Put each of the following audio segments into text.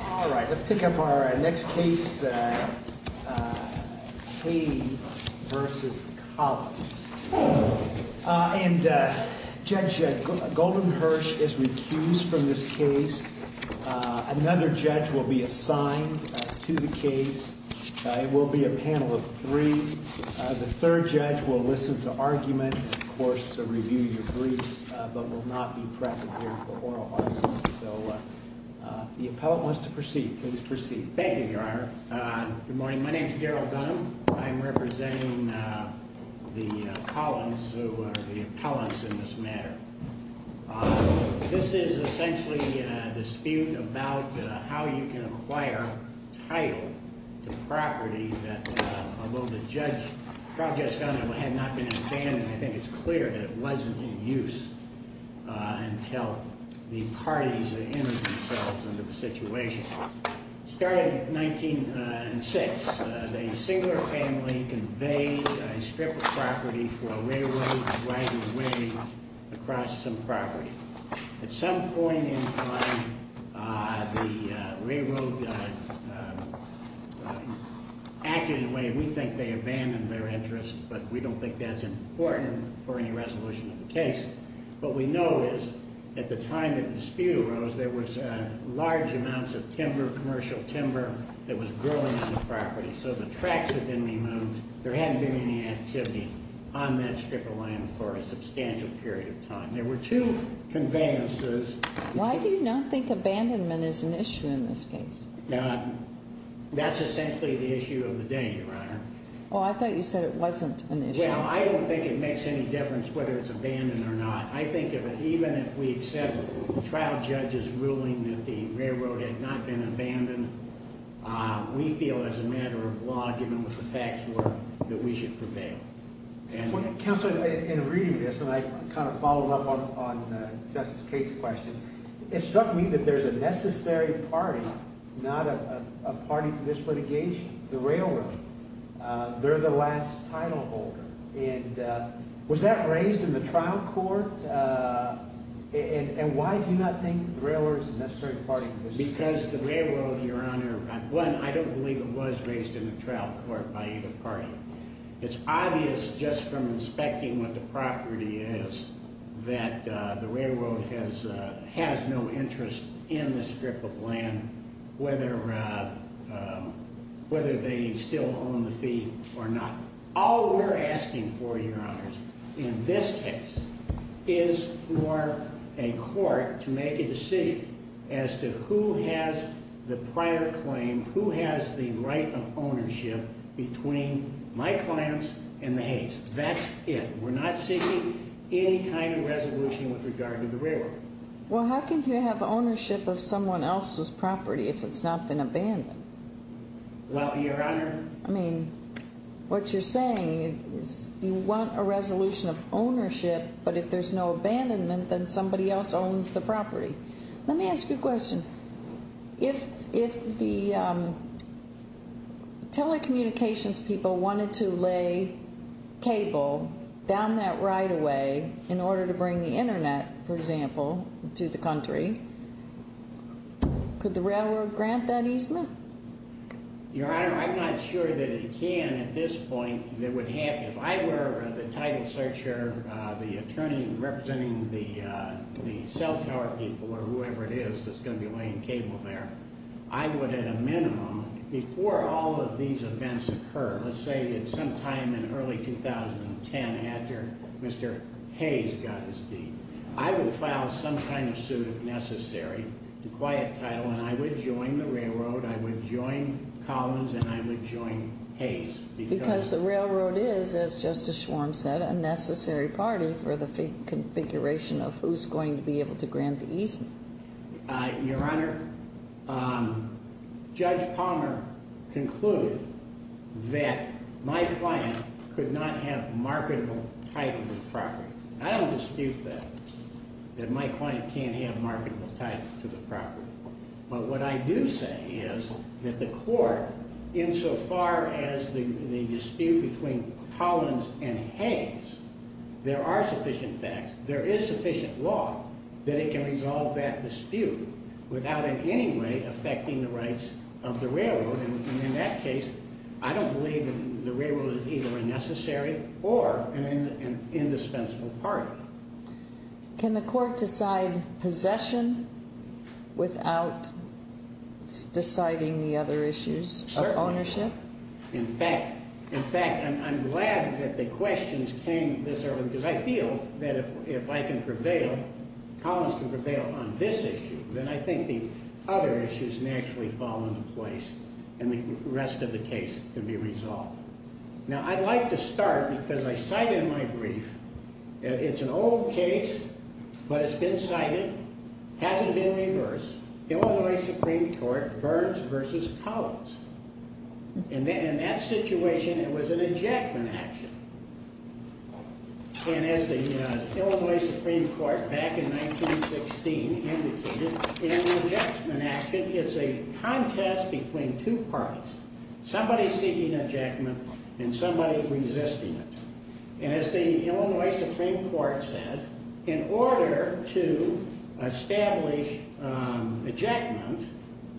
All right, let's take up our next case, Hays v. Collins. And Judge Goldenhersch is recused from this case. Another judge will be assigned to the case. It will be a panel of three. The third judge will listen to argument and, of course, review your briefs, but will not be present here for oral argument. So the appellant wants to proceed. Please proceed. Thank you, Your Honor. Good morning. My name is Gerald Dunham. I'm representing the Collins, who are the appellants in this matter. This is essentially a dispute about how you can acquire title to property that, although the project has not been abandoned, I think it's clear that it wasn't in use until the parties entered themselves into the situation. It started in 1906. A singular family conveyed a strip of property for a railroad driving away across some property. At some point in time, the railroad acted in a way we think they abandoned their interest, but we don't think that's important for any resolution of the case. What we know is at the time that the dispute arose, there was large amounts of timber, commercial timber, that was growing on the property. So the tracks had been removed. There hadn't been any activity on that strip of land for a substantial period of time. There were two conveyances. Why do you not think abandonment is an issue in this case? That's essentially the issue of the day, Your Honor. Well, I thought you said it wasn't an issue. Well, I don't think it makes any difference whether it's abandoned or not. I think even if we accept trial judges ruling that the railroad had not been abandoned, we feel as a matter of law, given what the facts were, that we should prevail. Counselor, in reading this, and I kind of followed up on Justice Cates' question, it struck me that there's a necessary party, not a party for this litigation, the railroad. They're the last titleholder. And was that raised in the trial court? And why do you not think the railroad is a necessary party for this case? Because the railroad, Your Honor, one, I don't believe it was raised in the trial court by either party. It's obvious just from inspecting what the property is that the railroad has no interest in this strip of land, whether they still own the fee or not. All we're asking for, Your Honors, in this case is for a court to make a decision as to who has the prior claim, who has the right of ownership between my clients and the Hays. That's it. We're not seeking any kind of resolution with regard to the railroad. Well, how can you have ownership of someone else's property if it's not been abandoned? Well, Your Honor. I mean, what you're saying is you want a resolution of ownership, but if there's no abandonment, then somebody else owns the property. Let me ask you a question. If the telecommunications people wanted to lay cable down that right-of-way in order to bring the Internet, for example, to the country, could the railroad grant that easement? Your Honor, I'm not sure that it can at this point. If I were the title searcher, the attorney representing the cell tower people or whoever it is that's going to be laying cable there, I would at a minimum, before all of these events occur, let's say at some time in early 2010 after Mr. Hays got his deed, I would file some kind of suit if necessary to quiet title, and I would join the railroad, I would join Collins, and I would join Hays. Because the railroad is, as Justice Schwarm said, a necessary party for the configuration of who's going to be able to grant the easement. Your Honor, Judge Palmer concluded that my client could not have marketable title to the property. I don't dispute that, that my client can't have marketable title to the property. But what I do say is that the court, insofar as the dispute between Collins and Hays, there are sufficient facts, there is sufficient law that it can resolve that dispute without in any way affecting the rights of the railroad. And in that case, I don't believe the railroad is either a necessary or an indispensable party. Can the court decide possession without deciding the other issues of ownership? Certainly not. In fact, I'm glad that the questions came this early because I feel that if I can prevail, Collins can prevail on this issue, then I think the other issues naturally fall into place and the rest of the case can be resolved. Now, I'd like to start because I cite in my brief, it's an old case, but it's been cited, hasn't been reversed, Illinois Supreme Court Burns versus Collins. In that situation, it was an ejectment action. And as the Illinois Supreme Court back in 1916 indicated, in an ejectment action, it's a contest between two parties, somebody seeking ejectment and somebody resisting it. And as the Illinois Supreme Court said, in order to establish ejectment,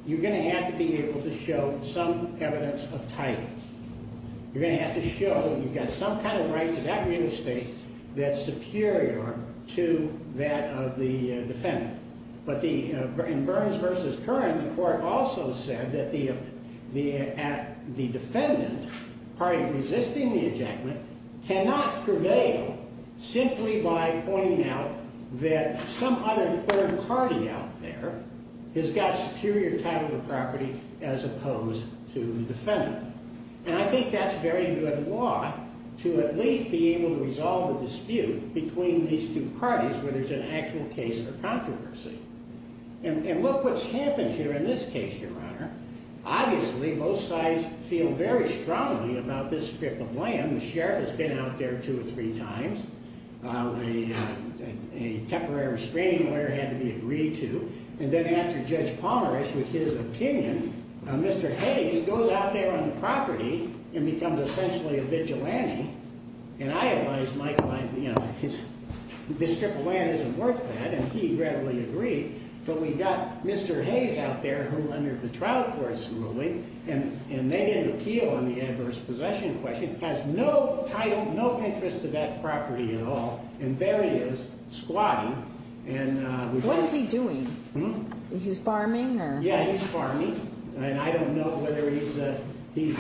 you're going to have to be able to show some evidence of title. You're going to have to show you've got some kind of right to that real estate that's superior to that of the defendant. But in Burns versus Curran, the court also said that the defendant, part of resisting the ejectment, cannot prevail simply by pointing out that some other third party out there has got superior title to the property as opposed to the defendant. And I think that's very good law, to at least be able to resolve the dispute between these two parties, whether it's an actual case or controversy. And look what's happened here in this case, Your Honor. Obviously, both sides feel very strongly about this strip of land. The sheriff has been out there two or three times. A temporary restraining order had to be agreed to. And then after Judge Palmer issued his opinion, Mr. Hayes goes out there on the property and becomes essentially a vigilante. And I advise Michael, this strip of land isn't worth that, and he readily agreed. But we've got Mr. Hayes out there who, under the trial court's ruling, and they didn't appeal on the adverse possession question, has no title, no interest to that property at all. And there he is, squatting. What is he doing? He's farming? Yeah, he's farming. And I don't know whether he's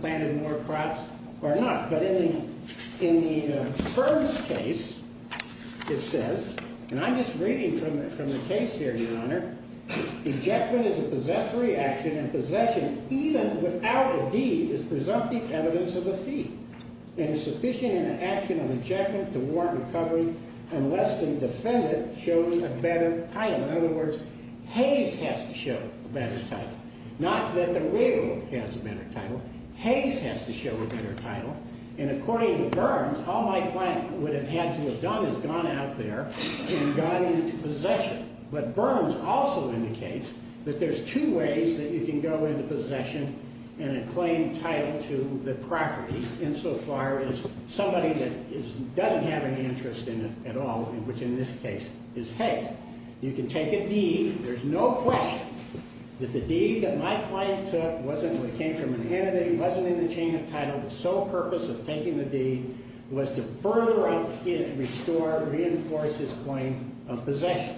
planted more crops or not. But in the first case, it says, and I'm just reading from the case here, Your Honor, In other words, Hayes has to show a better title. Not that the railroad has a better title. Hayes has to show a better title. And according to Burns, all my client would have had to have done is gone out there and gone into possession. But Burns also indicates that there's two ways that you can go into possession and a claim title to the property, insofar as somebody that doesn't have any interest in it at all, which in this case is Hayes. You can take a deed. There's no question that the deed that my client took wasn't, it came from an entity, wasn't in the chain of title. The sole purpose of taking the deed was to further up his, restore, reinforce his claim of possession.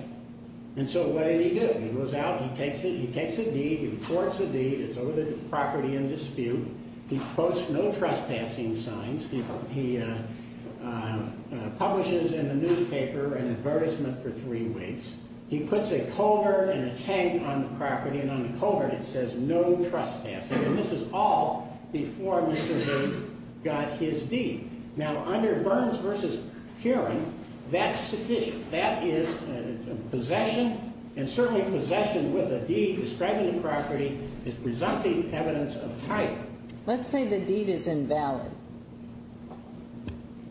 And so what did he do? He goes out, he takes it, he takes a deed, he reports the deed. It's over the property in dispute. He posts no trespassing signs. He publishes in the newspaper an advertisement for three weeks. He puts a culvert and a tag on the property, and on the culvert it says no trespassing. And this is all before Mr. Burns got his deed. Now, under Burns v. Heron, that's sufficient. That is a possession, and certainly possession with a deed describing the property is presumptive evidence of a title. Let's say the deed is invalid.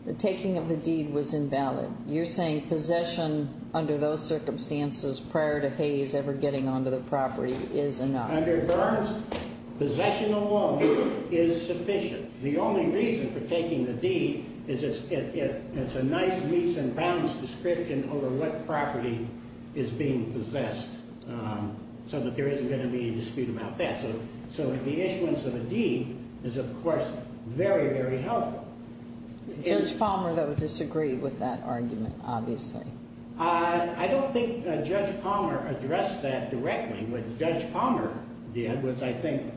The taking of the deed was invalid. You're saying possession under those circumstances prior to Hayes ever getting onto the property is enough. Under Burns, possession alone is sufficient. The only reason for taking the deed is it's a nice, nice and balanced description over what property is being possessed so that there isn't going to be a dispute about that. So the issuance of a deed is, of course, very, very helpful. Judge Palmer, though, disagreed with that argument, obviously. I don't think Judge Palmer addressed that directly. What Judge Palmer did was I think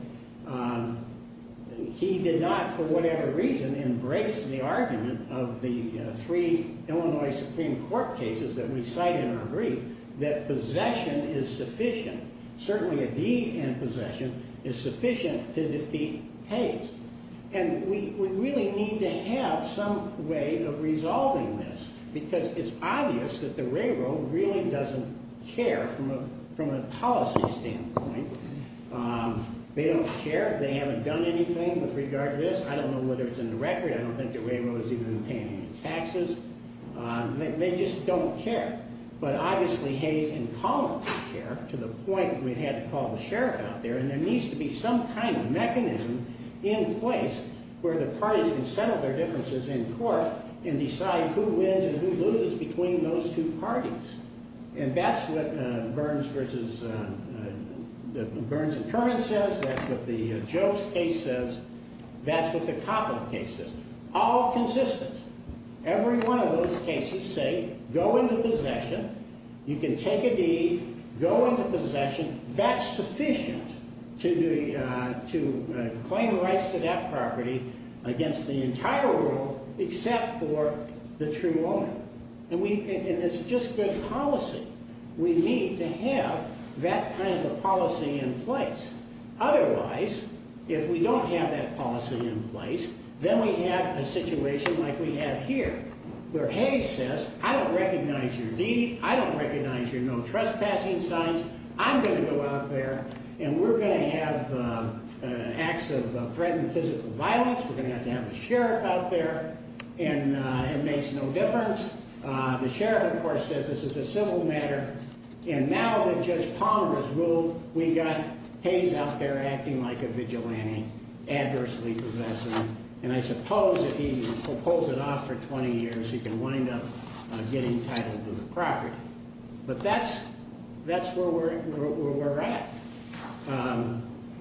he did not, for whatever reason, embrace the argument of the three Illinois Supreme Court cases that we cite in our brief that possession is sufficient. Certainly a deed in possession is sufficient to defeat Hayes. And we really need to have some way of resolving this because it's obvious that the railroad really doesn't care from a policy standpoint. They don't care. They haven't done anything with regard to this. I don't know whether it's in the record. I don't think the railroad has even been paying any taxes. They just don't care. But obviously, Hayes can call the sheriff to the point where he had to call the sheriff out there. And there needs to be some kind of mechanism in place where the parties can settle their differences in court and decide who wins and who loses between those two parties. And that's what Burns and Curran says. That's what the Jokes case says. That's what the Coppola case says. All consistent. Every one of those cases say go into possession. You can take a deed, go into possession. That's sufficient to claim rights to that property against the entire world except for the true owner. And it's just good policy. We need to have that kind of policy in place. Otherwise, if we don't have that policy in place, then we have a situation like we have here, where Hayes says, I don't recognize your deed. I don't recognize your no trespassing signs. I'm going to go out there, and we're going to have acts of threatened physical violence. We're going to have to have the sheriff out there. And it makes no difference. The sheriff, of course, says this is a civil matter. And now that Judge Palmer has ruled, we've got Hayes out there acting like a vigilante, adversely possessing. And I suppose if he pulls it off for 20 years, he can wind up getting entitled to the property. But that's where we're at.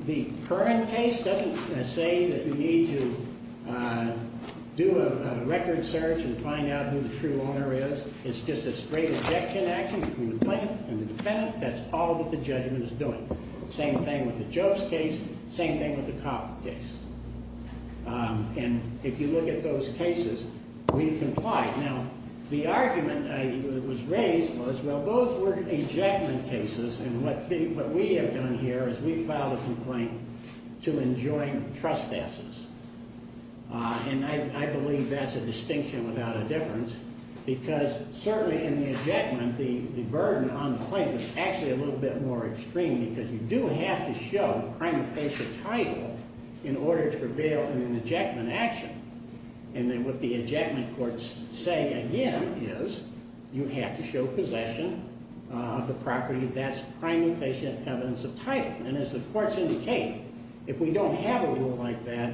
The Curran case doesn't say that you need to do a record search and find out who the true owner is. It's just a straight ejection action between the plaintiff and the defendant. That's all that the judgment is doing. Same thing with the Jokes case. Same thing with the Copp case. And if you look at those cases, we complied. Now, the argument that was raised was, well, those were ejectment cases. And what we have done here is we filed a complaint to enjoin trespasses. And I believe that's a distinction without a difference. Because certainly in the ejectment, the burden on the plaintiff is actually a little bit more extreme because you do have to show the crime of patient title in order to prevail in an ejectment action. And then what the ejectment courts say, again, is you have to show possession of the property. That's crime of patient evidence of title. And as the courts indicate, if we don't have a rule like that,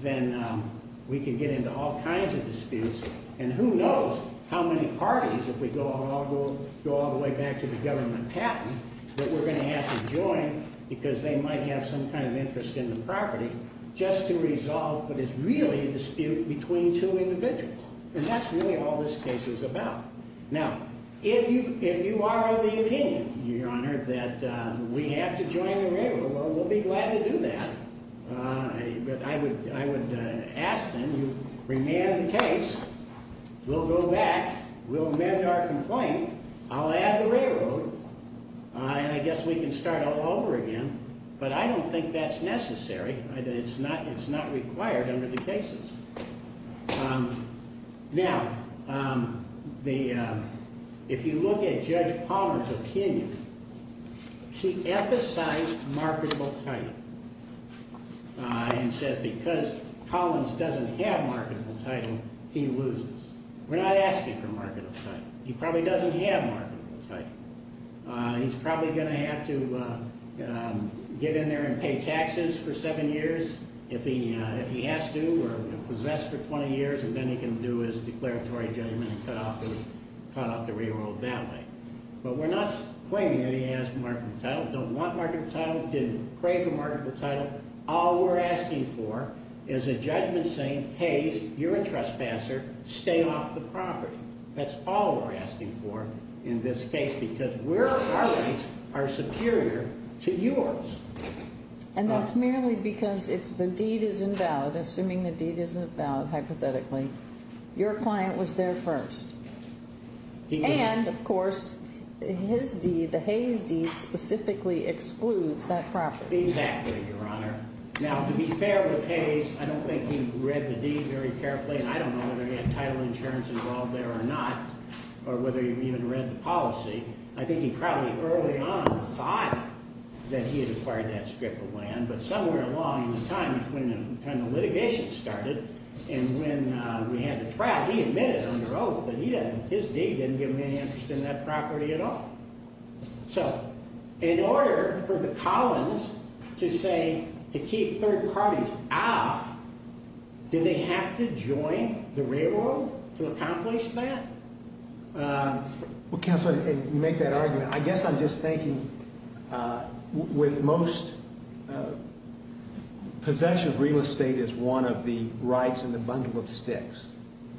then we can get into all kinds of disputes. And who knows how many parties, if we go all the way back to the government patent, that we're going to have to join because they might have some kind of interest in the property just to resolve what is really a dispute between two individuals. And that's really all this case is about. Now, if you are of the opinion, Your Honor, that we have to join the railroad, well, we'll be glad to do that. But I would ask then you remand the case. We'll go back. We'll amend our complaint. I'll add the railroad. And I guess we can start all over again. But I don't think that's necessary. It's not required under the cases. Now, if you look at Judge Palmer's opinion, she emphasized marketable title. And says because Collins doesn't have marketable title, he loses. We're not asking for marketable title. He probably doesn't have marketable title. He's probably going to have to get in there and pay taxes for seven years if he has to or possessed for 20 years, and then he can do his declaratory judgment and cut off the railroad that way. But we're not claiming that he has marketable title, don't want marketable title, didn't crave for marketable title. All we're asking for is a judgment saying, hey, you're a trespasser. Stay off the property. That's all we're asking for in this case because our rights are superior to yours. And that's merely because if the deed is invalid, assuming the deed is invalid hypothetically, your client was there first. And, of course, his deed, the Hayes deed, specifically excludes that property. Exactly, Your Honor. Now, to be fair with Hayes, I don't think he read the deed very carefully. And I don't know whether he had title insurance involved there or not or whether he even read the policy. I think he probably early on thought that he had acquired that strip of land. But somewhere along the time when the litigation started and when we had the trial, he admitted under oath that his deed didn't give him any interest in that property at all. So in order for the Collins to say to keep third parties off, did they have to join the railroad to accomplish that? Well, Counselor, you make that argument. I guess I'm just thinking with most possession of real estate is one of the rights in the bundle of sticks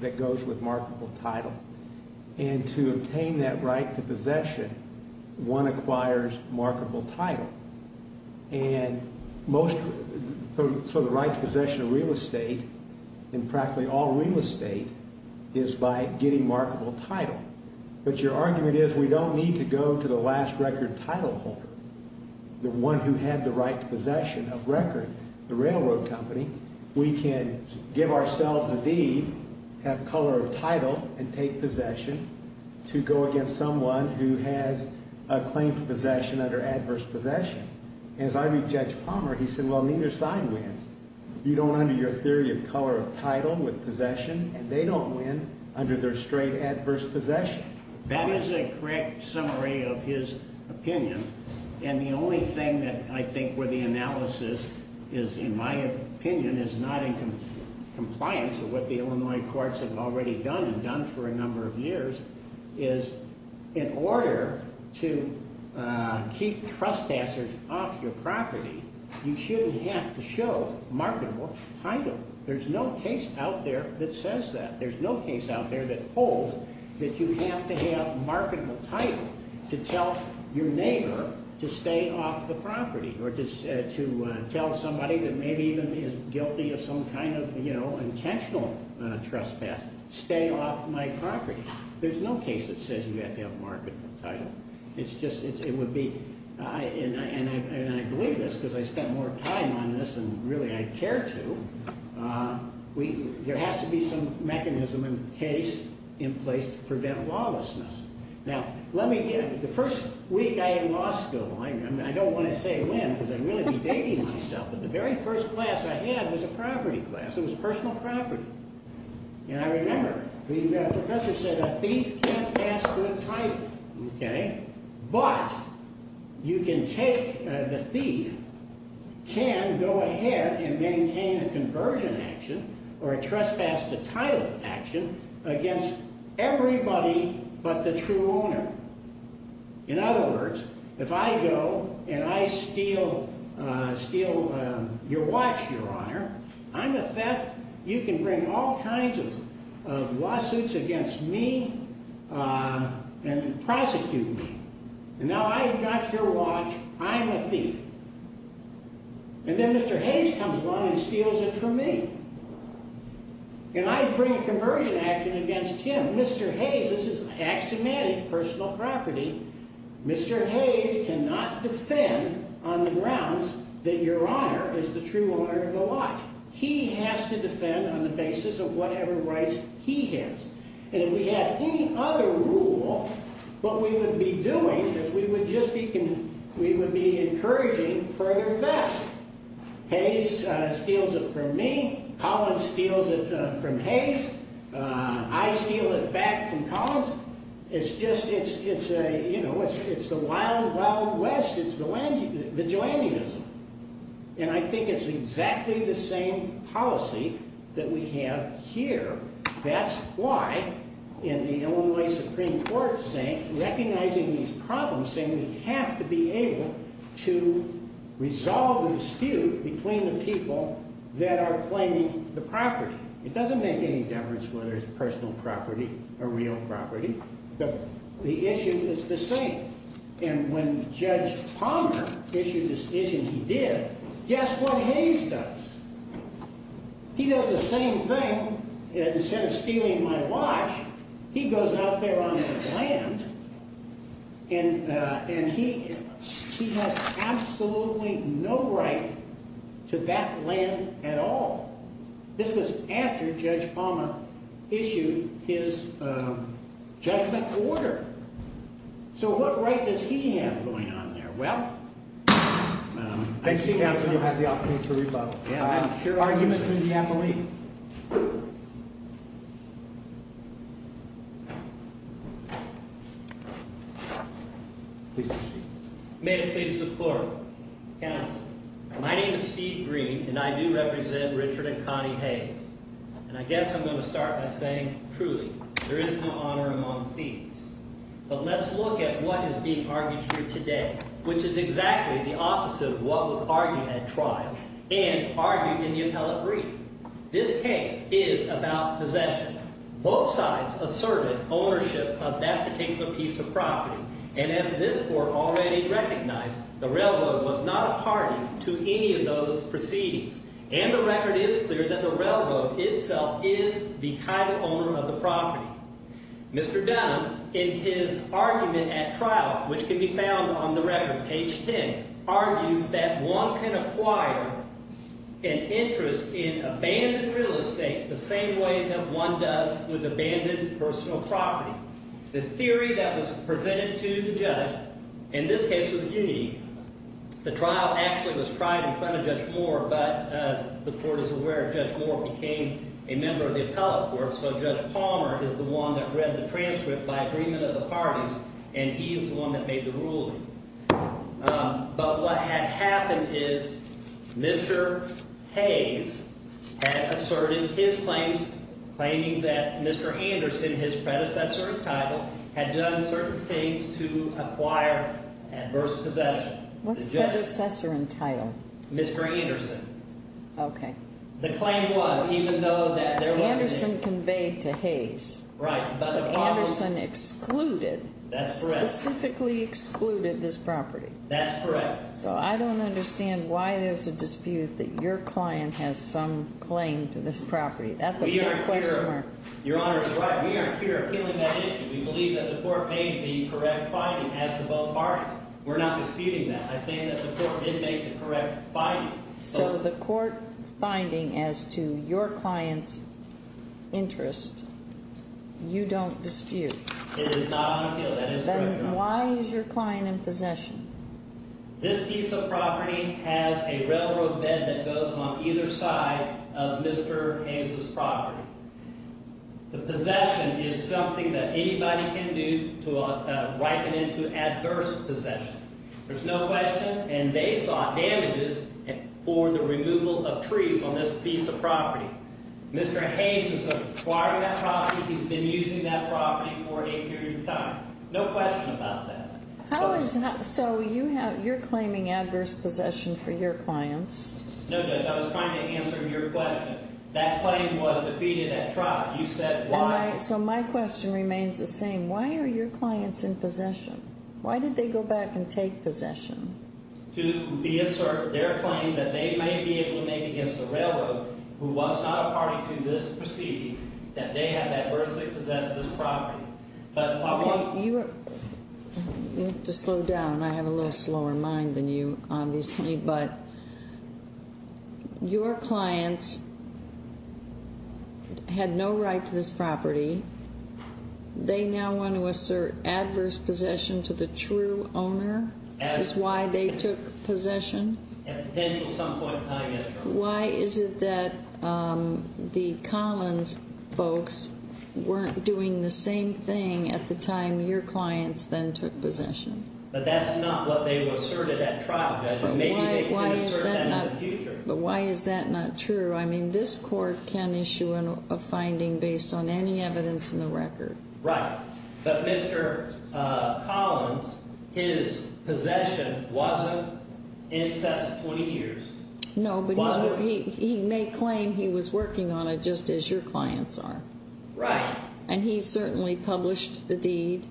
that goes with marketable title. And to obtain that right to possession, one acquires marketable title. And most for the right to possession of real estate and practically all real estate is by getting marketable title. But your argument is we don't need to go to the last record title holder, the one who had the right to possession of record, the railroad company. We can give ourselves a deed, have color of title and take possession to go against someone who has a claim for possession under adverse possession. As I read Judge Palmer, he said, well, neither side wins. You don't under your theory of color of title with possession and they don't win under their straight adverse possession. That is a correct summary of his opinion. And the only thing that I think where the analysis is, in my opinion, is not in compliance with what the Illinois courts have already done and done for a number of years, is in order to keep trespassers off your property, you shouldn't have to show marketable title. There's no case out there that says that. There's no case out there that holds that you have to have marketable title to tell your neighbor to stay off the property or to tell somebody that maybe even is guilty of some kind of, you know, intentional trespass, stay off my property. There's no case that says you have to have marketable title. It's just, it would be, and I believe this because I spent more time on this than really I care to. There has to be some mechanism and case in place to prevent lawlessness. Now, let me get, the first week I had law school, I don't want to say when because I'd really be dating myself, but the very first class I had was a property class. It was personal property. And I remember the professor said a thief can't pass with title, okay? But you can take, the thief can go ahead and maintain a conversion action or a trespass to title action against everybody but the true owner. In other words, if I go and I steal your watch, your honor, I'm a theft. You can bring all kinds of lawsuits against me and prosecute me. And now I've got your watch. I'm a thief. And then Mr. Hayes comes along and steals it from me. And I bring a conversion action against him. Now, Mr. Hayes, this is axiomatic personal property. Mr. Hayes cannot defend on the grounds that your honor is the true owner of the watch. He has to defend on the basis of whatever rights he has. And if we had any other rule, what we would be doing is we would just be encouraging further theft. Hayes steals it from me. Collins steals it from Hayes. I steal it back from Collins. It's just, it's a, you know, it's the wild, wild west. It's the vigilantism. And I think it's exactly the same policy that we have here. That's why in the Illinois Supreme Court saying, recognizing these problems, saying we have to be able to resolve the dispute between the people that are claiming the property. It doesn't make any difference whether it's personal property or real property. The issue is the same. And when Judge Palmer issued a decision he did, guess what Hayes does? He does the same thing. Instead of stealing my watch, he goes out there on the land and he has absolutely no right to that land at all. This was after Judge Palmer issued his judgment order. So what right does he have going on there? Well, I see. Thank you, counsel. You have the opportunity to rebut. Yeah, I'm sure. Argument from the appellee. Please be seated. May it please the court. My name is Steve Green, and I do represent Richard and Connie Hayes. And I guess I'm going to start by saying, truly, there is no honor among thieves. But let's look at what is being argued here today, which is exactly the opposite of what was argued at trial and argued in the appellate brief. This case is about possession. Both sides asserted ownership of that particular piece of property. And as this court already recognized, the railroad was not a party to any of those proceedings. And the record is clear that the railroad itself is the title owner of the property. Mr. Dunham, in his argument at trial, which can be found on the record, page 10, argues that one can acquire an interest in abandoned real estate the same way that one does with abandoned personal property. The theory that was presented to the judge in this case was unique. The trial actually was tried in front of Judge Moore. But as the court is aware, Judge Moore became a member of the appellate court, so Judge Palmer is the one that read the transcript by agreement of the parties, and he is the one that made the ruling. But what had happened is Mr. Hayes had asserted his claims, claiming that Mr. Anderson, his predecessor in title, had done certain things to acquire adverse possession. Mr. Anderson. Okay. The claim was, even though that there wasn't any... Anderson conveyed to Hayes. Right, but the problem... But Anderson excluded... That's correct. Specifically excluded this property. That's correct. So I don't understand why there's a dispute that your client has some claim to this property. That's a big question mark. Your Honor is right. We are here appealing that issue. We believe that the court made the correct finding as to both parties. We're not disputing that. I think that the court did make the correct finding. So the court finding as to your client's interest, you don't dispute? It is not on appeal. That is correct, Your Honor. Then why is your client in possession? This piece of property has a railroad bed that goes on either side of Mr. Hayes' property. The possession is something that anybody can do to ripen into adverse possession. There's no question. And they saw damages for the removal of trees on this piece of property. Mr. Hayes is acquiring that property. He's been using that property for a period of time. No question about that. So you're claiming adverse possession for your clients? No, Judge. I was trying to answer your question. That claim was defeated at trial. You said why... So my question remains the same. Why are your clients in possession? Why did they go back and take possession? To reassert their claim that they may be able to make against the railroad, who was not a party to this proceeding, that they have adversely possessed this property. Okay. You have to slow down. I have a little slower mind than you, obviously. But your clients had no right to this property. They now want to assert adverse possession to the true owner is why they took possession? At potential some point in time, yes, Your Honor. Why is it that the Collins folks weren't doing the same thing at the time your clients then took possession? But that's not what they asserted at trial, Judge. Maybe they can assert that in the future. But why is that not true? I mean, this court can issue a finding based on any evidence in the record. Right. But Mr. Collins, his possession wasn't incessant 20 years. No, but he may claim he was working on it just as your clients are. Right. And he certainly published the deed,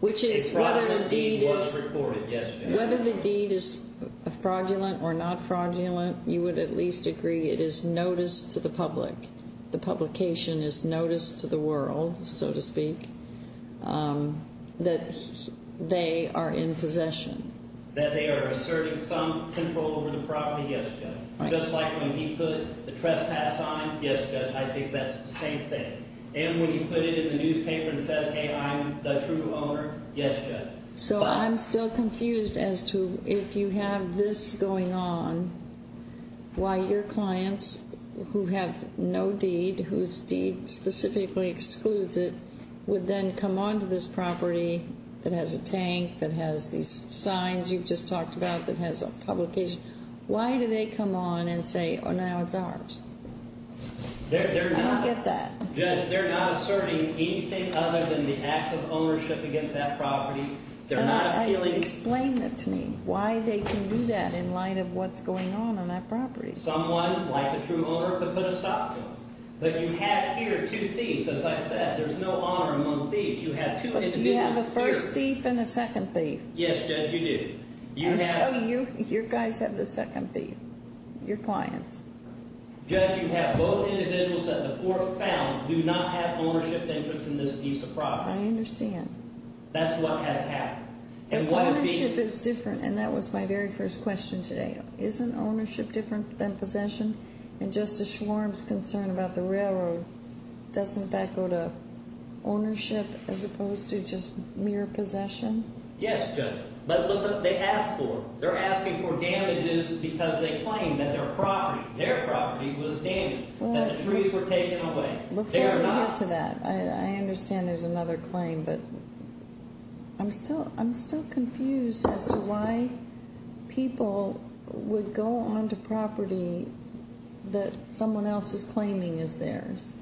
which is whether the deed is fraudulent or not fraudulent. You would at least agree it is notice to the public. The publication is notice to the world, so to speak, that they are in possession. That they are asserting some control over the property? Yes, Judge. Just like when he put the trespass sign? Yes, Judge. I think that's the same thing. And when he put it in the newspaper and says, hey, I'm the true owner? Yes, Judge. So I'm still confused as to if you have this going on, why your clients who have no deed, whose deed specifically excludes it, would then come on to this property that has a tank, that has these signs you've just talked about, that has a publication? Why do they come on and say, oh, now it's ours? I don't get that. Judge, they're not asserting anything other than the act of ownership against that property. They're not appealing. Explain that to me, why they can do that in light of what's going on on that property. Someone, like the true owner, could put a stop to it. But you have here two thieves. As I said, there's no honor among thieves. You have two individuals. Do you have a first thief and a second thief? Yes, Judge, you do. And so you guys have the second thief, your clients. Judge, you have both individuals that the court found do not have ownership interests in this piece of property. I understand. That's what has happened. But ownership is different, and that was my very first question today. Isn't ownership different than possession? And Justice Schwarm's concern about the railroad, doesn't that go to ownership as opposed to just mere possession? Yes, Judge. But look what they asked for. They're asking for damages because they claim that their property, their property was damaged, that the trees were taken away. They are not. Before we get to that, I understand there's another claim, but I'm still confused as to why people would go onto property that someone else is claiming is theirs,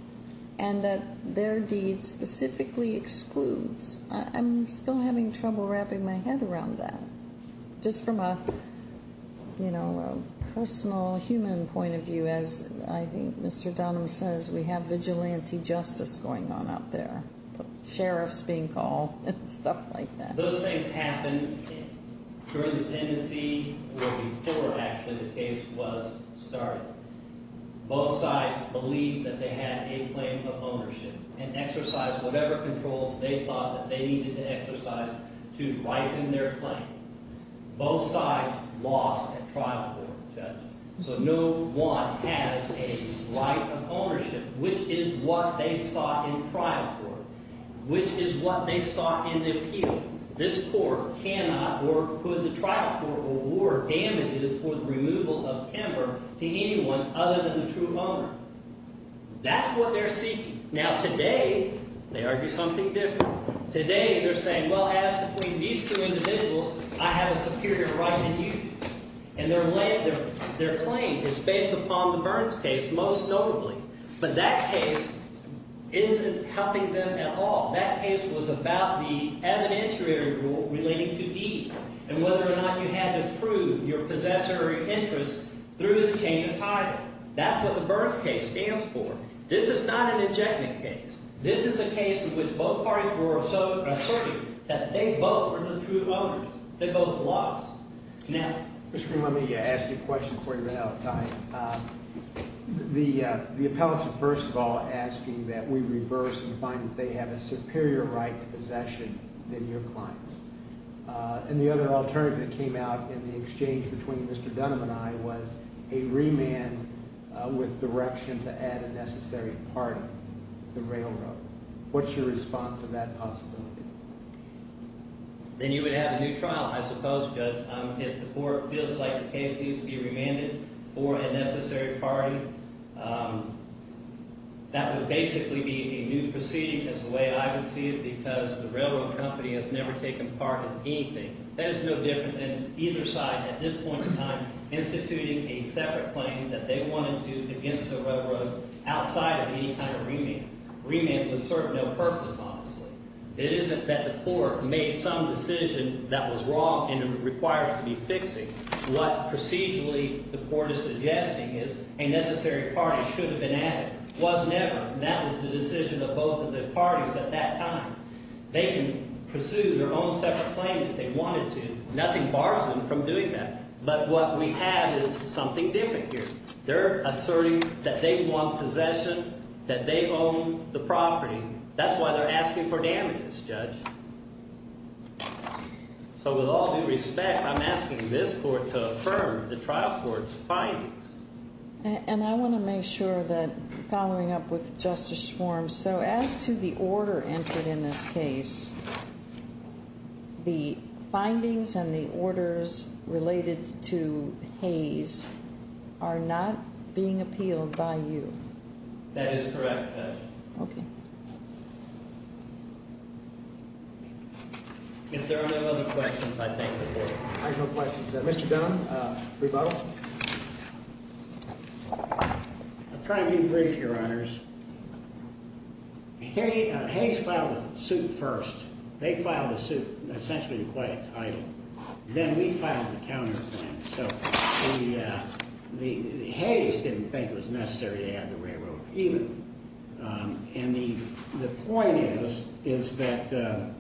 and that their deed specifically excludes. I'm still having trouble wrapping my head around that. Just from a personal human point of view, as I think Mr. Dunham says, we have vigilante justice going on out there, sheriffs being called and stuff like that. Those things happened during the pendency or before, actually, the case was started. Both sides believed that they had a claim of ownership and exercised whatever controls they thought that they needed to exercise to ripen their claim. Both sides lost at trial court, Judge. So no one has a right of ownership, which is what they sought in trial court, which is what they sought in the appeal. This court cannot or could the trial court award damages for the removal of timber to anyone other than the true owner. That's what they're seeking. Now, today they argue something different. Today they're saying, well, as between these two individuals, I have a superior right in you. And their claim is based upon the Burns case, most notably. But that case isn't helping them at all. That case was about the evidentiary rule relating to deeds and whether or not you had to prove your possessory interest through the chain of title. That's what the Burns case stands for. This is not an injectment case. This is a case in which both parties were so assertive that they both were the true owners. They both lost. Now, Mr. Green, let me ask you a question before you run out of time. The appellants are first of all asking that we reverse and find that they have a superior right to possession than your clients. And the other alternative that came out in the exchange between Mr. Dunham and I was a remand with direction to add a necessary part of the railroad. What's your response to that possibility? Then you would have a new trial, I suppose, Judge, if the court feels like the case needs to be remanded for a necessary party. That would basically be a new proceeding as the way I would see it because the railroad company has never taken part in anything. That is no different than either side at this point in time instituting a separate claim that they wanted to against the railroad outside of any kind of remand. Remand would serve no purpose, honestly. It isn't that the court made some decision that was wrong and it requires to be fixed. What procedurally the court is suggesting is a necessary party should have been added. It was never. That was the decision of both of the parties at that time. They can pursue their own separate claim if they wanted to. Nothing bars them from doing that. But what we have is something different here. They're asserting that they want possession, that they own the property. That's why they're asking for damages, Judge. So with all due respect, I'm asking this court to affirm the trial court's findings. And I want to make sure that following up with Justice Schwarm, so as to the order entered in this case, the findings and the orders related to Hayes are not being appealed by you. That is correct, Judge. Okay. If there are no other questions, I thank the court. There are no questions. Mr. Dunn, rebuttal. I'll try to be brief, Your Honors. Hayes filed a suit first. They filed a suit essentially to quiet idle. Then we filed a counterclaim. So Hayes didn't think it was necessary to add the railroad, even. And the point is that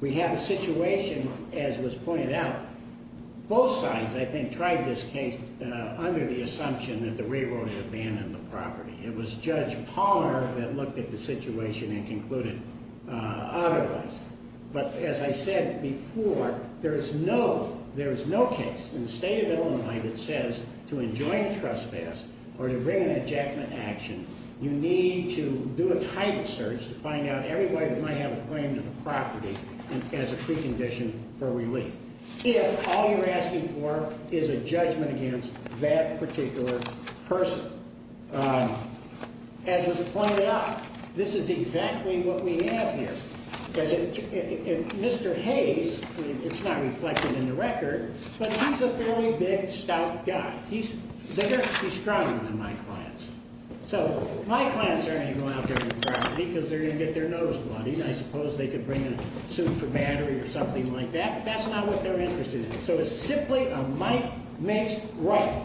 we have a situation, as was pointed out, both sides, I think, tried this case under the assumption that the railroad had abandoned the property. It was Judge Pollard that looked at the situation and concluded otherwise. But as I said before, there is no case. In the state of Illinois that says to enjoin trespass or to bring an ejectment action, you need to do a title search to find out everybody that might have a claim to the property as a precondition for relief. If all you're asking for is a judgment against that particular person. As was pointed out, this is exactly what we have here. Mr. Hayes, it's not reflected in the record, but he's a fairly big, stout guy. They're actually stronger than my clients. So my clients aren't going to go out there to the property because they're going to get their nose bloodied. I suppose they could bring a suit for battery or something like that, but that's not what they're interested in. So it's simply a might makes right.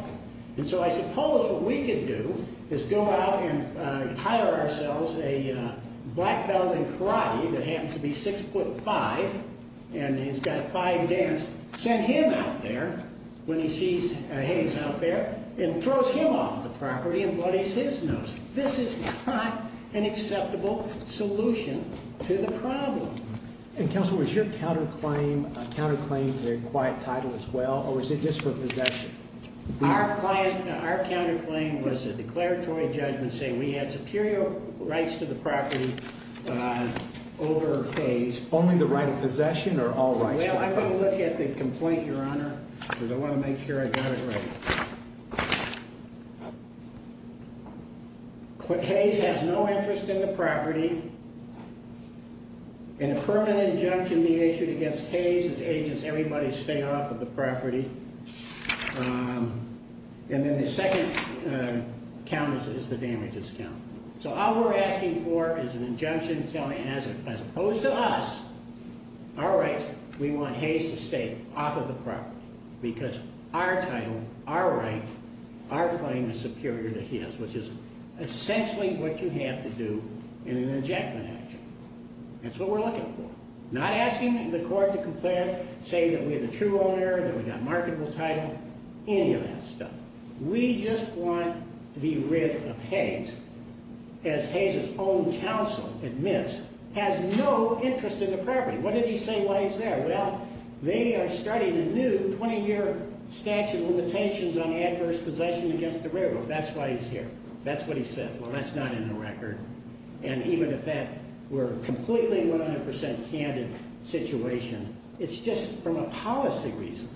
And so I suppose what we could do is go out and hire ourselves a black belt in karate that happens to be six foot five. And he's got five dance. Send him out there when he sees Hayes out there and throws him off the property and bloodies his nose. This is not an acceptable solution to the problem. And Council was your counterclaim a counterclaim to a quiet title as well, or was it just for possession? Our client, our counterclaim was a declaratory judgment saying we had superior rights to the property over Hayes. Only the right of possession or all rights? Well, I'm going to look at the complaint, Your Honor, because I want to make sure I got it right. I want to make sure I got it right. But Hayes has no interest in the property. And a permanent injunction be issued against Hayes as agents. Everybody stay off of the property. And then the second count is the damages count. So all we're asking for is an injunction telling, as opposed to us, our rights, we want Hayes to stay off of the property. Because our title, our right, our claim is superior to his, which is essentially what you have to do in an injection action. That's what we're looking for. Not asking the court to complain, say that we have a true owner, that we've got marketable title, any of that stuff. We just want to be rid of Hayes, as Hayes' own counsel admits, has no interest in the property. What did he say while he's there? Well, they are starting a new 20-year statute of limitations on adverse possession against the railroad. That's why he's here. That's what he said. Well, that's not in the record. And even if that were a completely 100% candid situation, it's just from a policy reason.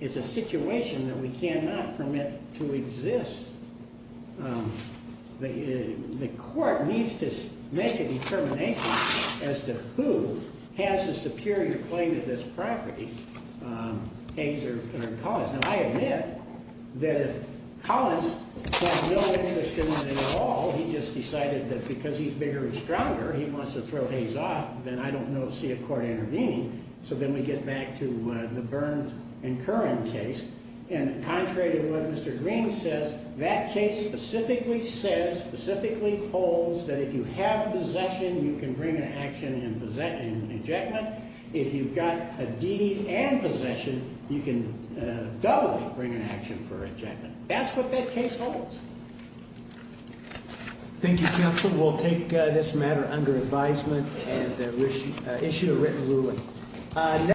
It's a situation that we cannot permit to exist. The court needs to make a determination as to who has a superior claim to this property, Hayes or Collins. Now, I admit that if Collins has no interest in it at all, he just decided that because he's bigger and stronger, he wants to throw Hayes off, then I don't see a court intervening. So then we get back to the Burns and Curran case. And contrary to what Mr. Green says, that case specifically says, specifically holds, that if you have possession, you can bring an action in ejectment. If you've got a deed and possession, you can doubly bring an action for ejectment. That's what that case holds. Thank you, counsel. We'll take this matter under advisement and issue a written ruling.